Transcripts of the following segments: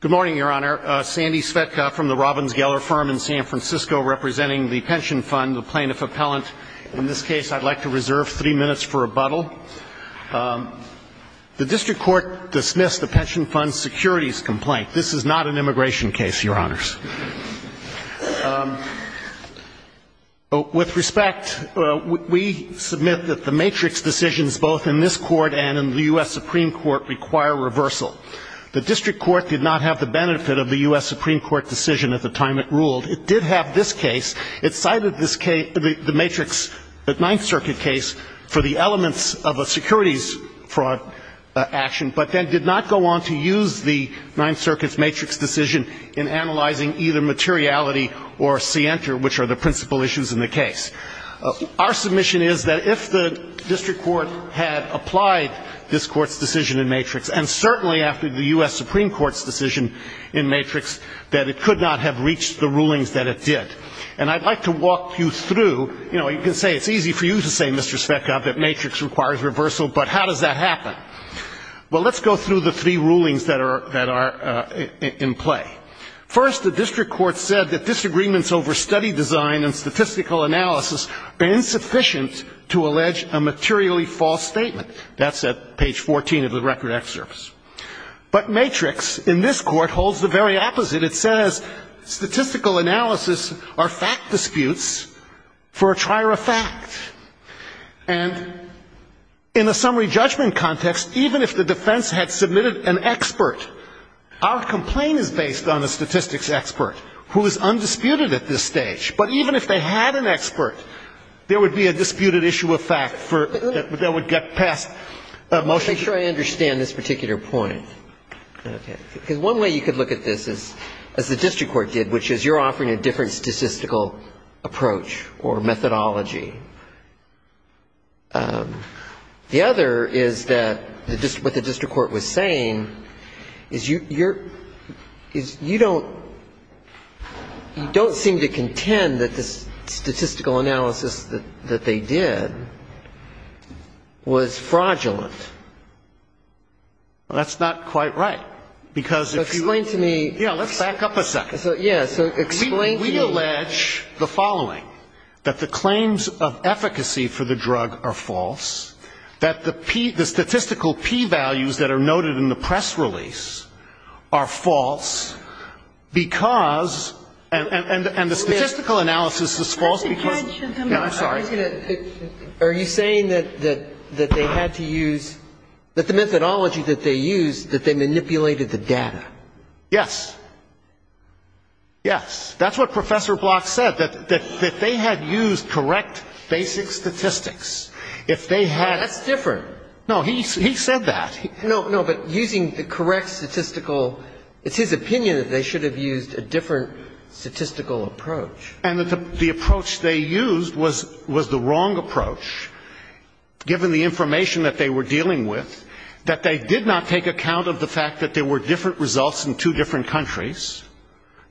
Good morning, Your Honor. Sandy Svetka from the Robbins Geller firm in San Francisco representing the pension fund, the plaintiff-appellant. In this case, I'd like to reserve three minutes for rebuttal. The district court dismissed the pension fund's securities complaint. This is not an immigration case, Your Honors. With respect, we submit that the matrix decisions both in this court and in the U.S. Supreme Court require reversal. The district court did not have the benefit of the U.S. Supreme Court decision at the time it ruled. It did have this case. It cited this case, the matrix, the Ninth Circuit case for the elements of a securities fraud action, but then did not go on to use the Ninth Circuit's matrix decision in analyzing either materiality or scienter, which are the principal issues in the case. Our submission is that if the district court had applied this court's decision in matrix, and certainly after the U.S. Supreme Court's decision in matrix, that it could not have reached the rulings that it did. And I'd like to walk you through, you know, you can say it's easy for you to say, Mr. Svetka, that matrix requires reversal, but how does that happen? Well, let's go through the three rulings that are in play. First, the district court said that disagreements over study design and statistical analysis are insufficient to allege a materially false statement. That's at page 14 of the record excerpts. But matrix, in this Court, holds the very opposite. It says statistical analysis are fact disputes for a trier of fact. And in a summary judgment context, even if the defense had submitted an expert, our complaint is based on a statistics expert who is undisputed at this stage. But even if they had an expert, there would be a disputed issue of fact that would get passed emotionally. Make sure I understand this particular point. Okay. Because one way you could look at this is, as the district court did, which is you're offering a different statistical approach or methodology. The other is that what the district court was saying is you don't seem to contend that the statistical analysis that they did was fraudulent. Well, that's not quite right. Explain to me. Yeah, let's back up a second. Yeah, so explain to me. We allege the following, that the claims of efficacy for the drug are false, that the statistical P values that are noted in the press release are false because the evidence is false, and the statistical analysis is false because of the data. I'm sorry. Are you saying that they had to use, that the methodology that they used, that they manipulated the data? Yes. Yes. That's what Professor Block said, that they had used correct basic statistics. If they had. That's different. No, he said that. No, no, but using the correct statistical, it's his opinion that they should have used a different statistical approach. And the approach they used was the wrong approach, given the information that they were dealing with, that they did not take account of the fact that there were different results in two different countries.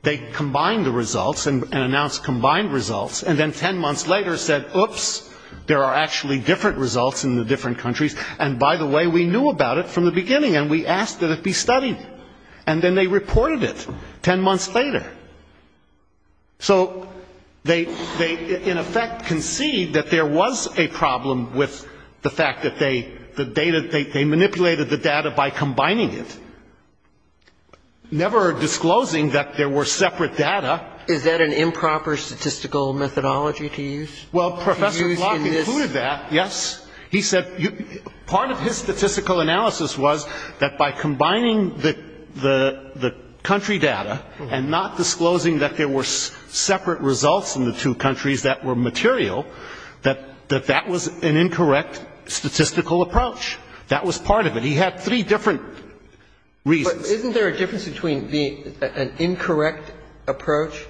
They combined the results and announced combined results, and then 10 months later said, oops, there are actually different results in the different countries, and by the way, we knew about it from the beginning, and we asked that it be studied. And then they reported it 10 months later. So they, in effect, concede that there was a problem with the fact that they, the data, they manipulated the data by combining it, never disclosing that there were separate data. Is that an improper statistical methodology to use? Well, Professor Block included that, yes. He said part of his statistical analysis was that by combining the country data and not disclosing that there were separate results in the two countries that were material, that that was an incorrect statistical approach. That was part of it. He had three different reasons. But isn't there a difference between an incorrect approach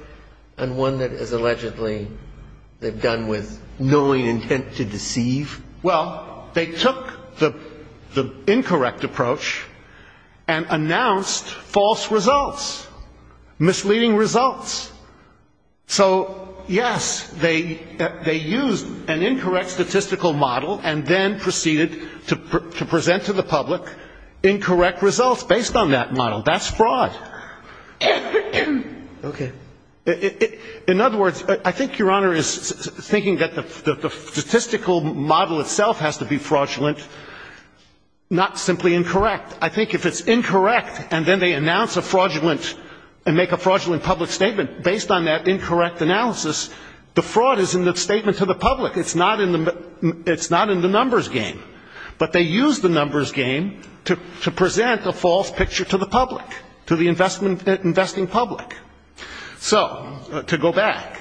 and one that is allegedly they've done with knowing intent to deceive? Well, they took the incorrect approach and announced false results, misleading results. So, yes, they used an incorrect statistical model and then proceeded to present to the public incorrect results based on that model. That's fraud. Okay. In other words, I think Your Honor is thinking that the statistical model itself has to be fraudulent, not simply incorrect. I think if it's incorrect and then they announce a fraudulent and make a fraudulent public statement based on that incorrect analysis, the fraud is in the statement to the public. It's not in the numbers game. But they use the numbers game to present a false picture to the public, to the investing public. So, to go back,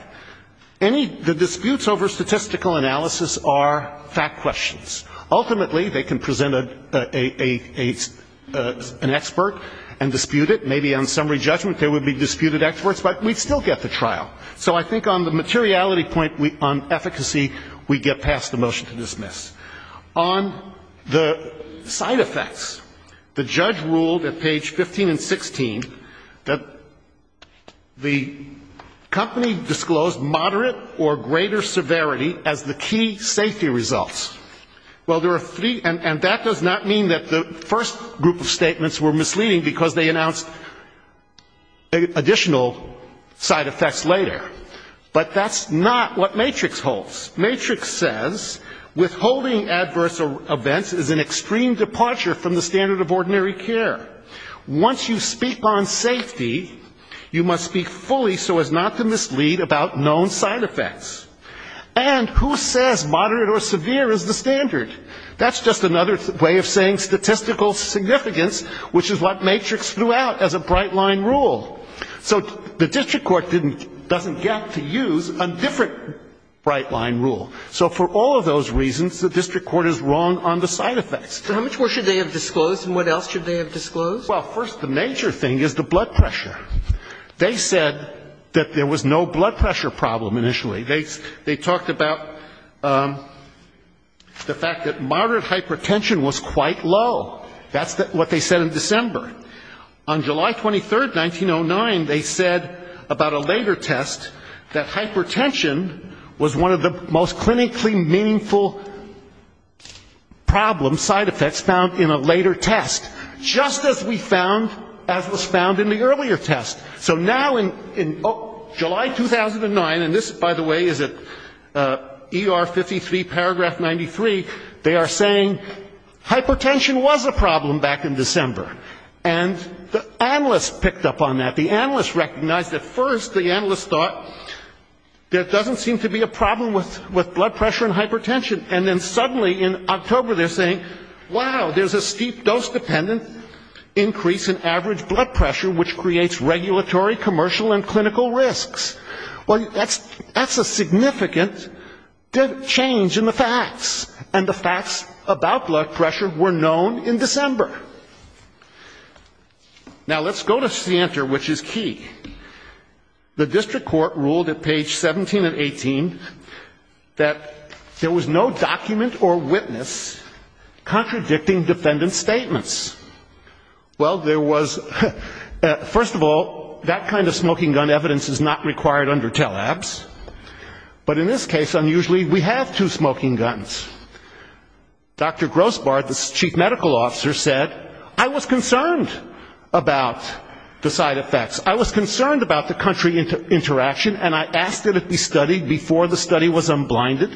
the disputes over statistical analysis are fact questions. Ultimately, they can present an expert and dispute it. Maybe on summary judgment there would be disputed experts, but we'd still get the trial. So I think on the materiality point, on efficacy, we get past the motion to dismiss. On the side effects, the judge ruled at page 15 and 16 that the company disclosed moderate or greater severity as the key safety results. Well, there are three, and that does not mean that the first group of statements were misleading because they announced additional side effects later. But that's not what Matrix holds. Matrix says withholding adverse events is an extreme departure from the standard of ordinary care. Once you speak on safety, you must speak fully so as not to mislead about known side effects. And who says moderate or severe is the standard? That's just another way of saying statistical significance, which is what Matrix threw out as a bright-line rule. So the district court didn't get to use a different bright-line rule. So for all of those reasons, the district court is wrong on the side effects. So how much more should they have disclosed, and what else should they have disclosed? Well, first, the major thing is the blood pressure. They said that there was no blood pressure problem initially. They talked about the fact that moderate hypertension was quite low. That's what they said in December. On July 23, 1909, they said about a later test that hypertension was one of the most clinically meaningful problems, side effects found in a later test, just as we found as was found in the earlier test. So now in July 2009, and this, by the way, is at ER 53, paragraph 93, they are saying hypertension was a problem back in December. And the analysts picked up on that. The analysts recognized at first, the analysts thought there doesn't seem to be a problem with blood pressure and hypertension. And then suddenly in October they're saying, wow, there's a steep dose-dependent increase in average blood pressure, which creates regulatory, commercial, and clinical risks. Well, that's a significant change in the facts. And the facts about blood pressure were known in December. Now, let's go to Santer, which is key. The district court ruled at page 17 and 18 that there was no document or witness contradicting defendant's statements. Well, there was, first of all, that kind of smoking gun evidence is not required under tele-abs. But in this case, unusually, we have two smoking guns. Dr. Grossbart, the chief medical officer, said, I was concerned about the side effects. I was concerned about the country interaction, and I asked it to be studied before the study was unblinded.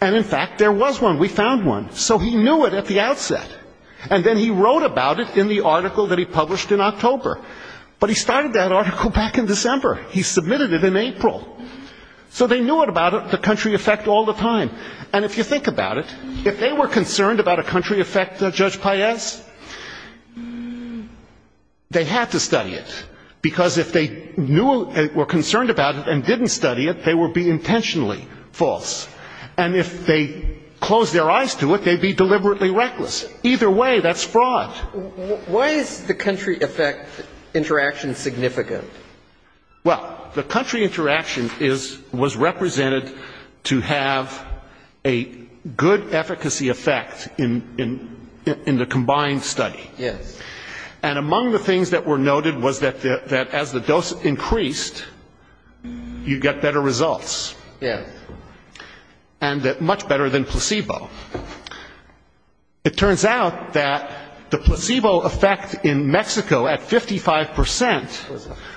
And, in fact, there was one. We found one. So he knew it at the outset. And then he wrote about it in the article that he published in October. But he started that article back in December. He submitted it in April. So they knew about it, the country effect, all the time. And if you think about it, if they were concerned about a country effect, Judge Paez, they had to study it. Because if they were concerned about it and didn't study it, they would be intentionally false. And if they closed their eyes to it, they'd be deliberately reckless. Either way, that's fraud. Why is the country effect interaction significant? Well, the country interaction was represented to have a good efficacy effect in the combined study. Yes. And among the things that were noted was that as the dose increased, you get better results. Yes. And much better than placebo. It turns out that the placebo effect in Mexico at 55 percent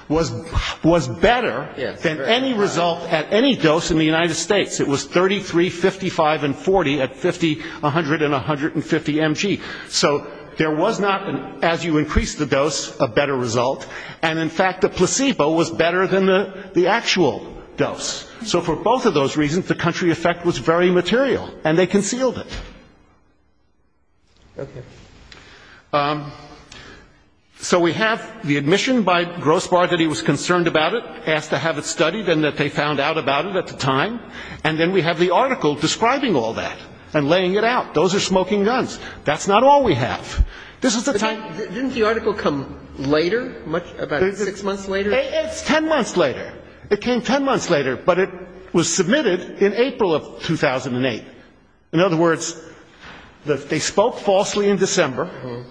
was better than any result at any dose in the United States. It was 33, 55, and 40 at 50, 100, and 150 mg. So there was not, as you increased the dose, a better result. And, in fact, the placebo was better than the actual dose. So for both of those reasons, the country effect was very material. And they concealed it. Okay. So we have the admission by Grosbar that he was concerned about it, asked to have it studied, and that they found out about it at the time. And then we have the article describing all that and laying it out. Those are smoking guns. That's not all we have. This is the time. Didn't the article come later, about six months later? It's 10 months later. It came 10 months later, but it was submitted in April of 2008. In other words, they spoke falsely in December.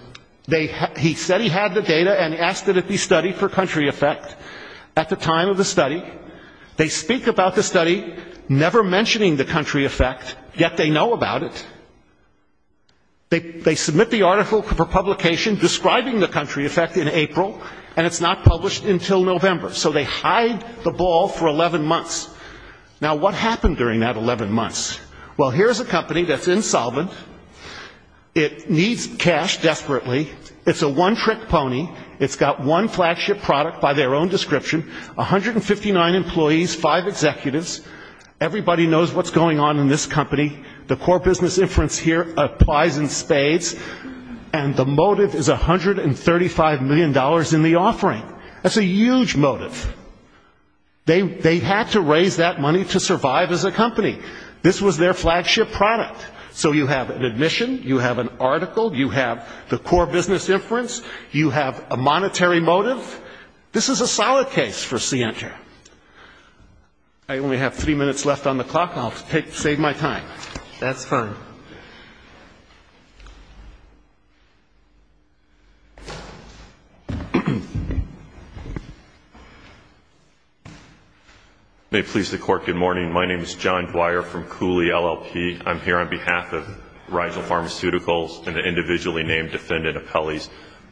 He said he had the data and asked that it be studied for country effect at the time of the study. They speak about the study, never mentioning the country effect, yet they know about it. They submit the article for publication describing the country effect in April, and it's not published until November. So they hide the ball for 11 months. Now, what happened during that 11 months? Well, here's a company that's insolvent. It needs cash desperately. It's a one-trick pony. It's got one flagship product by their own description, 159 employees, five executives. Everybody knows what's going on in this company. The core business inference here applies in spades. And the motive is $135 million in the offering. That's a huge motive. They had to raise that money to survive as a company. This was their flagship product. So you have an admission, you have an article, you have the core business inference, you have a monetary motive. This is a solid case for CNTR. I only have three minutes left on the clock, and I'll save my time. That's fine. May it please the Court, good morning. My name is John Dwyer from Cooley LLP. I'm here on behalf of Riesl Pharmaceuticals and the individually named defendant appellees.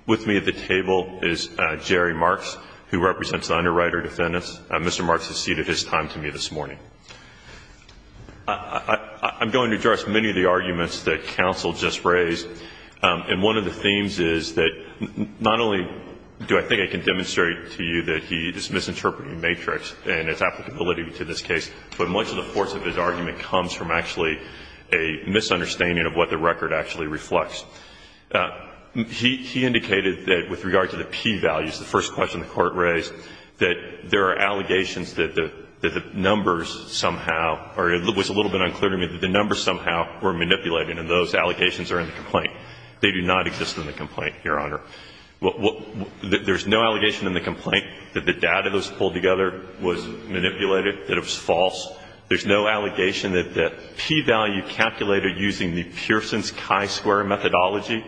With me at the table is Jerry Marks, who represents the underwriter defendants. Mr. Marks has ceded his time to me this morning. I'm going to address many of the arguments that counsel just raised. And one of the themes is that not only do I think I can demonstrate to you that he is misinterpreting Matrix and its applicability to this case, but much of the force of his argument comes from actually a misunderstanding of what the record actually reflects. He indicated that with regard to the P values, the first question the Court raised, that there are allegations that the numbers somehow, or it was a little bit unclear to me, that the numbers somehow were manipulated, and those allegations are in the complaint. They do not exist in the complaint, Your Honor. There's no allegation in the complaint that the data that was pulled together was manipulated, that it was false. There's no allegation that the P value calculated using the Pearson's chi-square methodology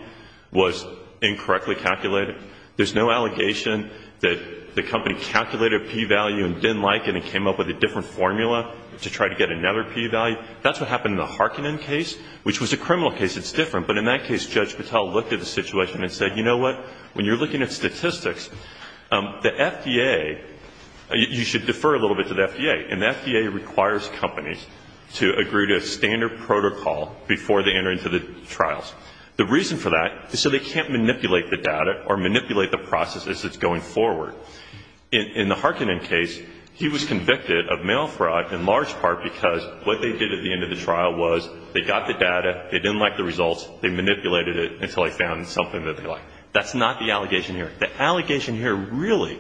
was incorrectly calculated. There's no allegation that the company calculated a P value and didn't like it and came up with a different formula to try to get another P value. That's what happened in the Harkinen case, which was a criminal case. It's different. But in that case, Judge Patel looked at the situation and said, you know what, when you're looking at statistics, the FDA, you should defer a little bit to the FDA, and the FDA requires companies to agree to a standard protocol before they enter into the trials. The reason for that is so they can't manipulate the data or manipulate the process as it's going forward. In the Harkinen case, he was convicted of mail fraud in large part because what they did at the end of the trial was they got the data, they didn't like the results, they manipulated it until they found something that they liked. That's not the allegation here. The allegation here really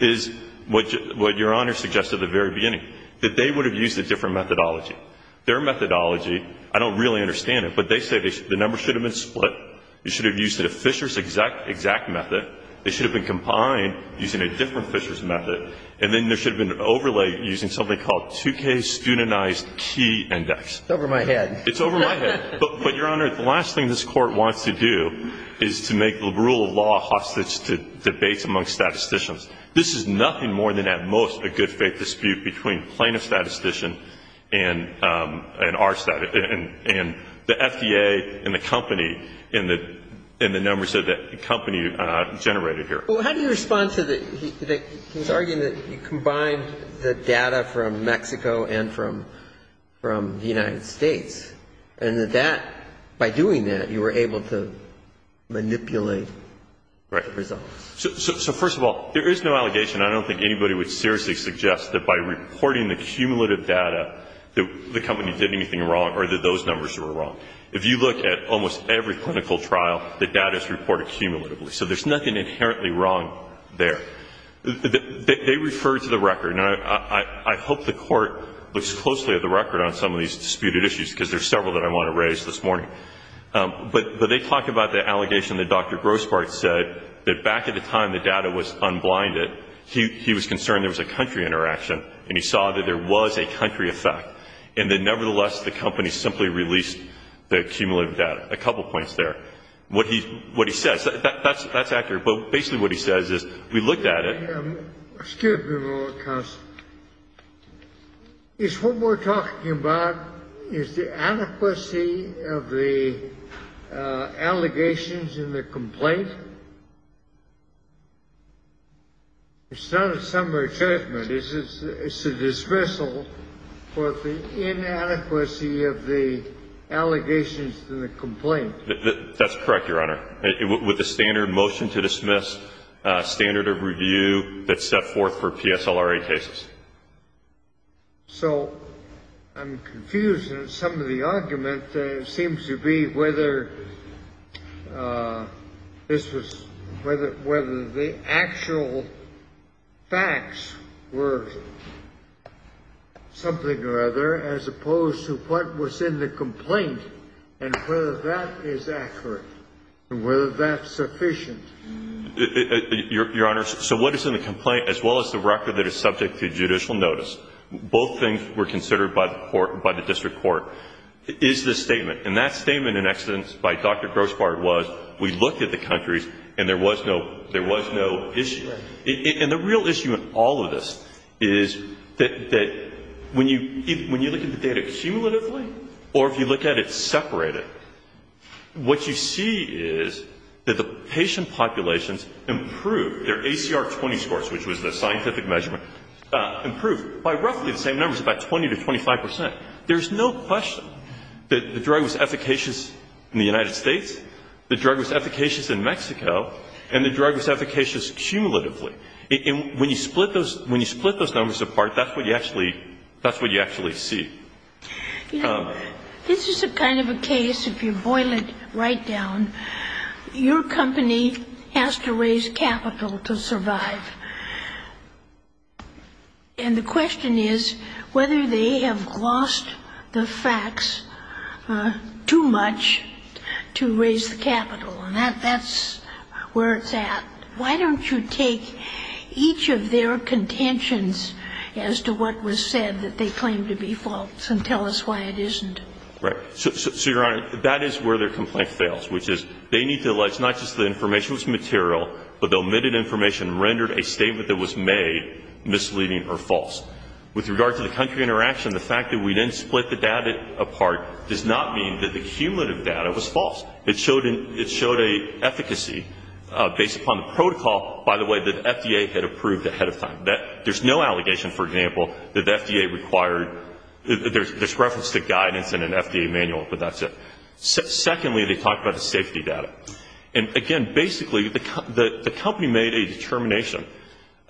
is what Your Honor suggested at the very beginning, that they would have used a different methodology. Their methodology, I don't really understand it, but they say the numbers should have been split, they should have used the Fisher's exact method, they should have been combined using a different Fisher's method, and then there should have been an overlay using something called 2K studentized key index. It's over my head. It's over my head. But, Your Honor, the last thing this Court wants to do is to make the rule of law hostage to debates among statisticians. This is nothing more than at most a good-faith dispute between plaintiff statistician and our statistician and the FDA and the company and the numbers that the company generated here. Well, how do you respond to his arguing that you combined the data from Mexico and from the United States and that that, by doing that, you were able to manipulate the results? So, first of all, there is no allegation. I don't think anybody would seriously suggest that by reporting the cumulative data that the company did anything wrong or that those numbers were wrong. If you look at almost every clinical trial, the data is reported cumulatively. So there's nothing inherently wrong there. They refer to the record. Now, I hope the Court looks closely at the record on some of these disputed issues because there are several that I want to raise this morning. But they talk about the allegation that Dr. Grossbart said that back at the time the data was unblinded, he was concerned there was a country interaction and he saw that there was a country effect and that, nevertheless, the company simply released the cumulative data. A couple points there. What he says. That's accurate. But basically what he says is we looked at it. Excuse me, Counsel. Is what we're talking about, is the adequacy of the allegations in the complaint? It's not a summary judgment. It's a dismissal for the inadequacy of the allegations in the complaint. That's correct, Your Honor. With the standard motion to dismiss, standard of review that's set forth for PSLRA cases. So I'm confused. Some of the argument seems to be whether the actual facts were something or other, as opposed to what was in the complaint and whether that is accurate and whether that's sufficient. Your Honor, so what is in the complaint, as well as the record that is subject to judicial notice, both things were considered by the court, by the district court, is the statement. And that statement in excellence by Dr. Grossbart was we looked at the countries and there was no issue. And the real issue in all of this is that when you look at the data cumulatively or if you look at it separated, what you see is that the patient populations improved their ACR 20 scores, which was the scientific measurement, improved by roughly the same numbers, about 20 to 25 percent. There's no question that the drug was efficacious in the United States, the drug was efficacious in Mexico, and the drug was efficacious cumulatively. And when you split those numbers apart, that's what you actually see. You know, this is a kind of a case, if you boil it right down, your company has to raise capital to survive. And the question is whether they have lost the facts too much to raise the capital. And that's where it's at. Why don't you take each of their contentions as to what was said that they claimed to be false and tell us why it isn't? Right. So, Your Honor, that is where their complaint fails, which is they need to allege not just the information was material, but the omitted information rendered a statement that was made misleading or false. With regard to the country interaction, the fact that we didn't split the data apart does not mean that the cumulative data was false. It showed an efficacy based upon the protocol, by the way, that FDA had approved ahead of time. There's no allegation, for example, that the FDA required, there's reference to guidance in an FDA manual, but that's it. Secondly, they talked about the safety data. And, again, basically the company made a determination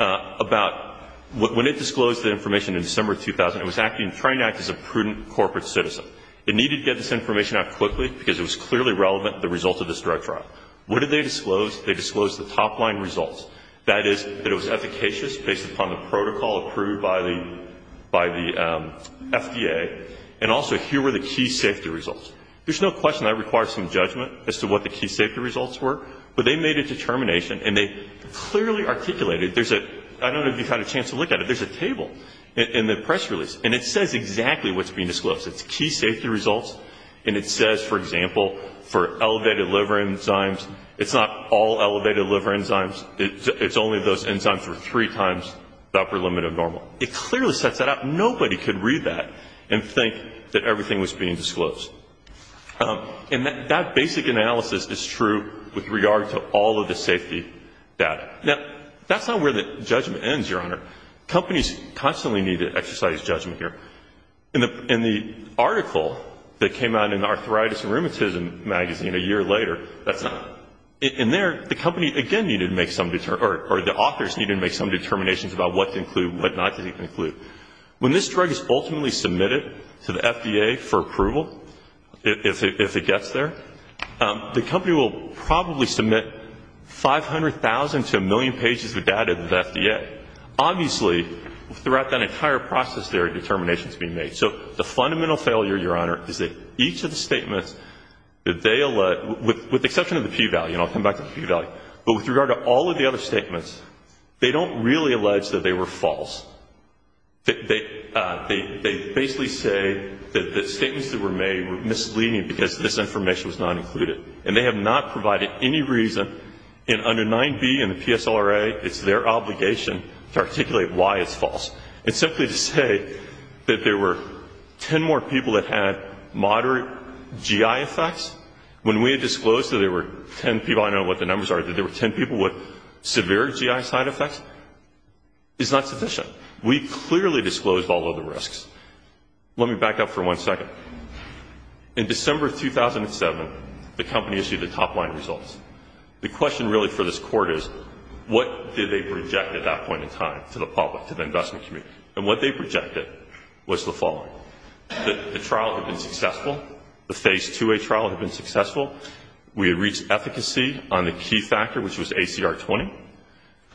about when it disclosed the information in December 2000, it was trying to act as a prudent corporate citizen. It needed to get this information out quickly, because it was clearly relevant, the result of this drug trial. What did they disclose? They disclosed the top line results. That is, that it was efficacious based upon the protocol approved by the FDA, and also here were the key safety results. There's no question that requires some judgment as to what the key safety results were, but they made a determination, and they clearly articulated. There's a, I don't know if you've had a chance to look at it, there's a table in the press release, and it says exactly what's being disclosed. It's key safety results, and it says, for example, for elevated liver enzymes, it's not all elevated liver enzymes, it's only those enzymes were three times the upper limit of normal. It clearly sets that up. Nobody could read that and think that everything was being disclosed. And that basic analysis is true with regard to all of the safety data. Now, that's not where the judgment ends, Your Honor. Companies constantly need to exercise judgment here. In the article that came out in Arthritis and Rheumatism magazine a year later, that's not. In there, the company again needed to make some, or the authors needed to make some determinations about what to include and what not to include. When this drug is ultimately submitted to the FDA for approval, if it gets there, the company will probably submit 500,000 to a million pages of data to the FDA. Obviously, throughout that entire process, there are determinations being made. So the fundamental failure, Your Honor, is that each of the statements that they allege, with the exception of the P-value, and I'll come back to the P-value, but with regard to all of the other statements, they don't really allege that they were false. They basically say that the statements that were made were misleading because this information was not included. And they have not provided any reason, and under 9B in the PSLRA, it's their obligation to articulate why it's false. And simply to say that there were 10 more people that had moderate GI effects, when we had disclosed that there were 10 people, I don't know what the numbers are, that there were 10 people with severe GI side effects, is not sufficient. We clearly disclosed all of the risks. Let me back up for one second. In December of 2007, the company issued the top-line results. The question really for this Court is, what did they project at that point in time to the public, to the investment community? And what they projected was the following. The trial had been successful. The Phase 2A trial had been successful. We had reached efficacy on the key factor, which was ACR 20.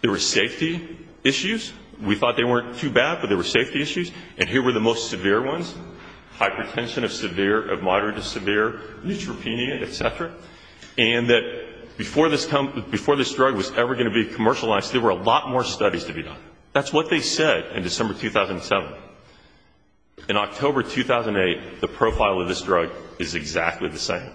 There were safety issues. We thought they weren't too bad, but there were safety issues, and here were the most severe ones. Hypertension of moderate to severe, neutropenia, et cetera, and that before this drug was ever going to be commercialized, there were a lot more studies to be done. That's what they said in December 2007. In October 2008, the profile of this drug is exactly the same.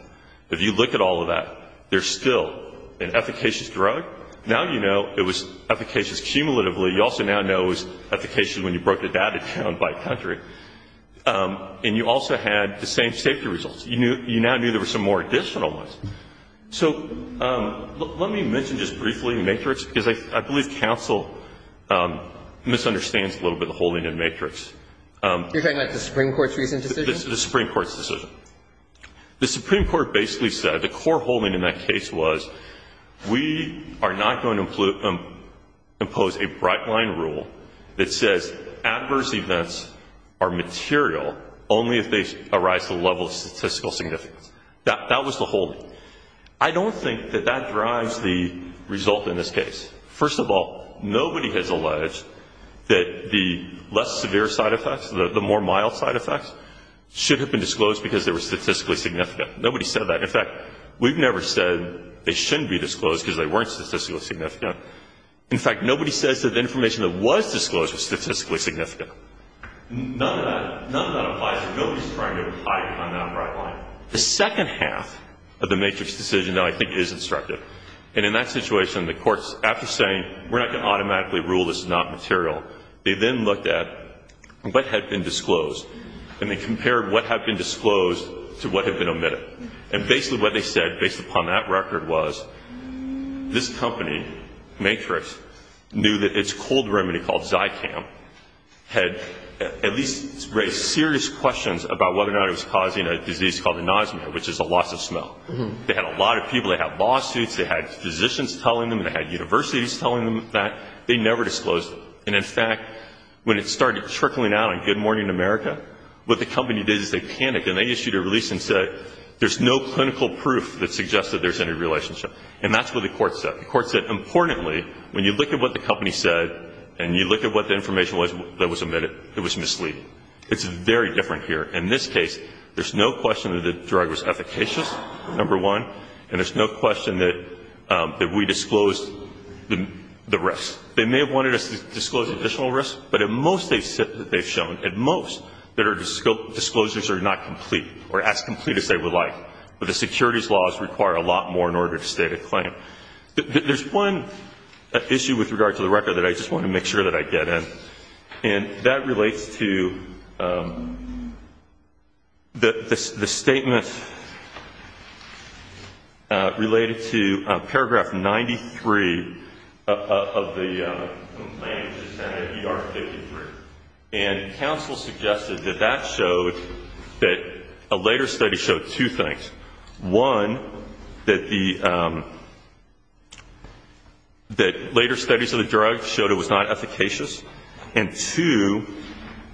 If you look at all of that, there's still an efficacious drug. Now you know it was efficacious cumulatively. You also now know it was efficacious when you broke the data down by country. And you also had the same safety results. You now knew there were some more additional ones. So let me mention just briefly MATRIX, because I believe counsel misunderstands a little bit the holding in MATRIX. You're talking about the Supreme Court's recent decision? The Supreme Court's decision. The Supreme Court basically said the core holding in that case was we are not going to impose a bright-line rule that says adverse events are material only if they arise to the level of statistical significance. That was the holding. I don't think that that drives the result in this case. First of all, nobody has alleged that the less severe side effects, the more mild side effects, should have been disclosed because they were statistically significant. Nobody said that. In fact, we've never said they shouldn't be disclosed because they weren't statistically significant. In fact, nobody says that the information that was disclosed was statistically significant. None of that applies. Nobody is trying to hide behind that bright line. The second half of the MATRIX decision that I think is instructive. And in that situation, the courts, after saying we're not going to automatically rule this is not material, they then looked at what had been disclosed. And they compared what had been disclosed to what had been omitted. And basically what they said, based upon that record, was this company, MATRIX, knew that its cold remedy called Zycam had at least raised serious questions about whether or not it was causing a disease called anosmia, which is a loss of smell. They had a lot of people. They had lawsuits. They had physicians telling them. They had universities telling them that. They never disclosed it. And, in fact, when it started trickling out on Good Morning America, what the company did is they panicked. And they issued a release and said there's no clinical proof that suggests that there's any relationship. And that's what the court said. The court said, importantly, when you look at what the company said and you look at what the information was that was omitted, it was misleading. It's very different here. In this case, there's no question that the drug was efficacious, number one, and there's no question that we disclosed the rest. They may have wanted us to disclose additional risk, but at most they've shown, at most, that our disclosures are not complete or as complete as they would like. But the securities laws require a lot more in order to state a claim. There's one issue with regard to the record that I just want to make sure that I get in, and that relates to the statement related to Paragraph 93 of the complaint to Senate ER 53. And counsel suggested that that showed that a later study showed two things. One, that later studies of the drug showed it was not efficacious, and two,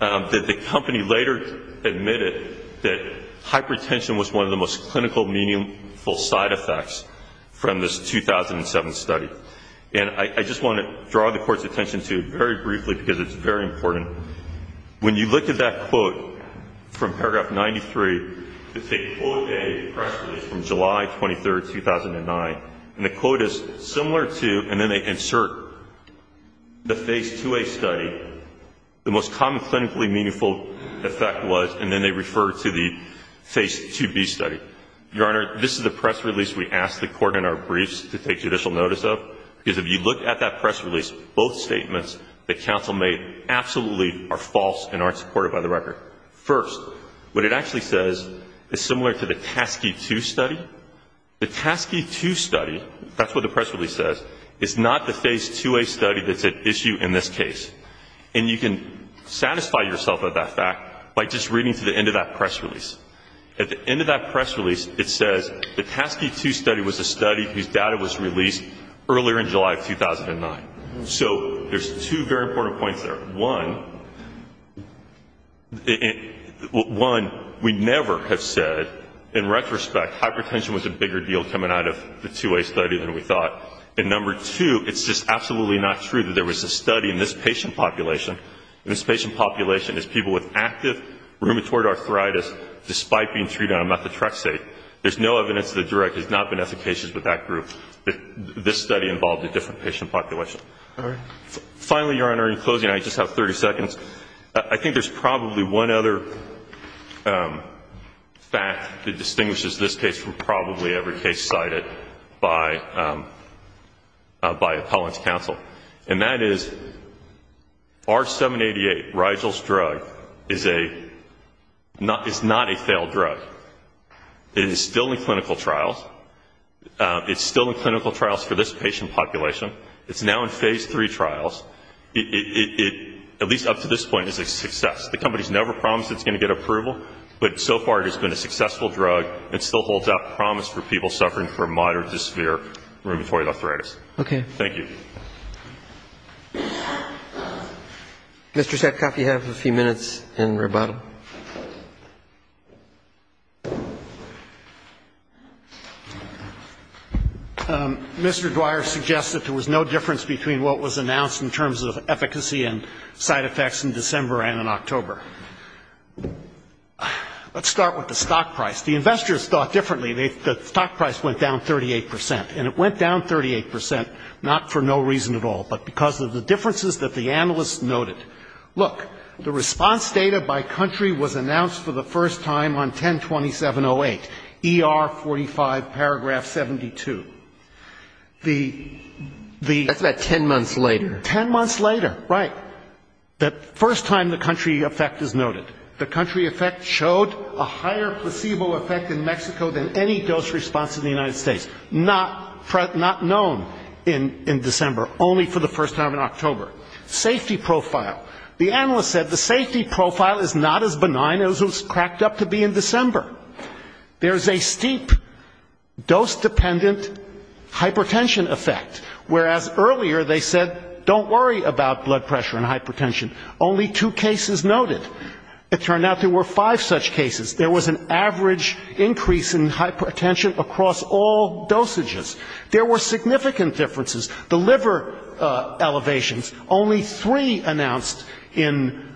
that the company later admitted that hypertension was one of the most clinical, meaningful side effects from this 2007 study. And I just want to draw the court's attention to it very briefly because it's very important. When you look at that quote from Paragraph 93, it's a quote dated press release from July 23, 2009, and the quote is similar to, and then they insert the Phase 2A study, the most common clinically meaningful effect was, and then they refer to the Phase 2B study. Your Honor, this is the press release we asked the court in our briefs to take judicial notice of, because if you look at that press release, both statements that counsel made absolutely are false and aren't supported by the record. First, what it actually says is similar to the TASCII 2 study. The TASCII 2 study, that's what the press release says, is not the Phase 2A study that's at issue in this case. And you can satisfy yourself of that fact by just reading to the end of that press release. At the end of that press release, it says the TASCII 2 study was a study whose data was released earlier in July of 2009. So there's two very important points there. One, we never have said, in retrospect, hypertension was a bigger deal coming out of the 2A study than we thought. And number two, it's just absolutely not true that there was a study in this patient population, and this patient population is people with active rheumatoid arthritis despite being treated on methotrexate. There's no evidence that the direct has not been efficacious with that group. This study involved a different patient population. All right. Finally, Your Honor, in closing, I just have 30 seconds. I think there's probably one other fact that distinguishes this case from probably every case cited by appellant's counsel, and that is R-788, Rigel's drug, is not a failed drug. It is still in clinical trials. It's still in clinical trials for this patient population. It's now in phase three trials. It, at least up to this point, is a success. The company's never promised it's going to get approval, but so far it has been a successful drug. It still holds out promise for people suffering from moderate to severe rheumatoid arthritis. Okay. Thank you. Mr. Sackoff, you have a few minutes in rebuttal. Mr. Dwyer suggests that there was no difference between what was announced in terms of efficacy and side effects in December and in October. Let's start with the stock price. The investors thought differently. The stock price went down 38 percent, and it went down 38 percent not for no reason at all, but because of the differences that the analysts noted. Look, the response data by country was announced for the first time on 10-2708, ER-45, paragraph 72. The ‑‑ That's about ten months later. Ten months later, right. The first time the country effect is noted. The country effect showed a higher placebo effect in Mexico than any dose response in the United States. Not known in December. Only for the first time in October. Safety profile. The analysts said the safety profile is not as benign as it was cracked up to be in December. There's a steep dose‑dependent hypertension effect, whereas earlier they said don't worry about blood pressure and hypertension. Only two cases noted. It turned out there were five such cases. There was an average increase in hypertension across all dosages. There were significant differences. The liver elevations, only three announced in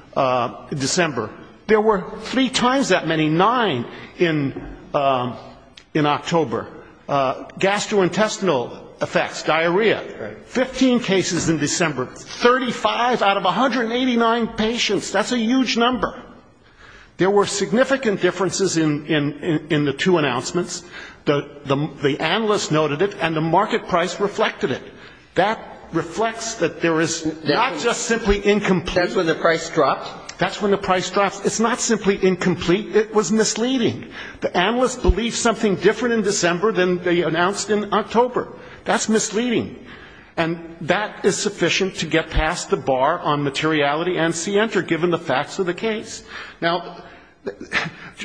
December. There were three times that many, nine in October. Gastrointestinal effects, diarrhea, 15 cases in December. 35 out of 189 patients. That's a huge number. There were significant differences in the two announcements. The analysts noted it, and the market price reflected it. That reflects that there is not just simply incomplete. That's when the price dropped? That's when the price dropped. It's not simply incomplete. It was misleading. The analysts believed something different in December than they announced in October. That's misleading. And that is sufficient to get past the bar on materiality and C‑Enter, given the facts of the case. Now,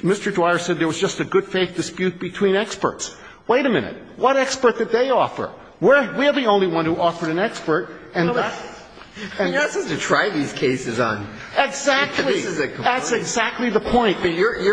Mr. Dwyer said there was just a good faith dispute between experts. Wait a minute. What expert did they offer? We're the only one who offered an expert. And that's ‑‑ Breyer. But you're not supposed to try these cases on me. Exactly. This is a complaint. That's exactly the point. But you're ‑‑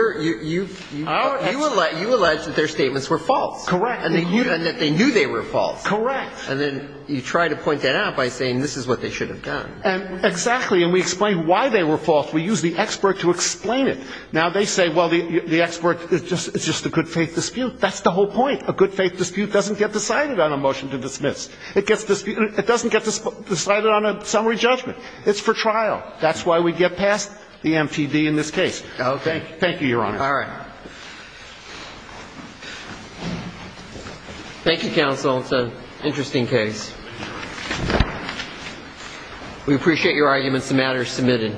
you alleged that their statements were false. And that they knew they were false. And then you try to point that out by saying this is what they should have done. Exactly. And we explain why they were false. We use the expert to explain it. Now, they say, well, the expert is just a good faith dispute. That's the whole point. A good faith dispute doesn't get decided on a motion to dismiss. It gets ‑‑ it doesn't get decided on a summary judgment. It's for trial. That's why we get past the MPD in this case. Okay. Thank you, Your Honor. All right. Thank you, counsel. It's an interesting case. We appreciate your arguments. The matter is submitted.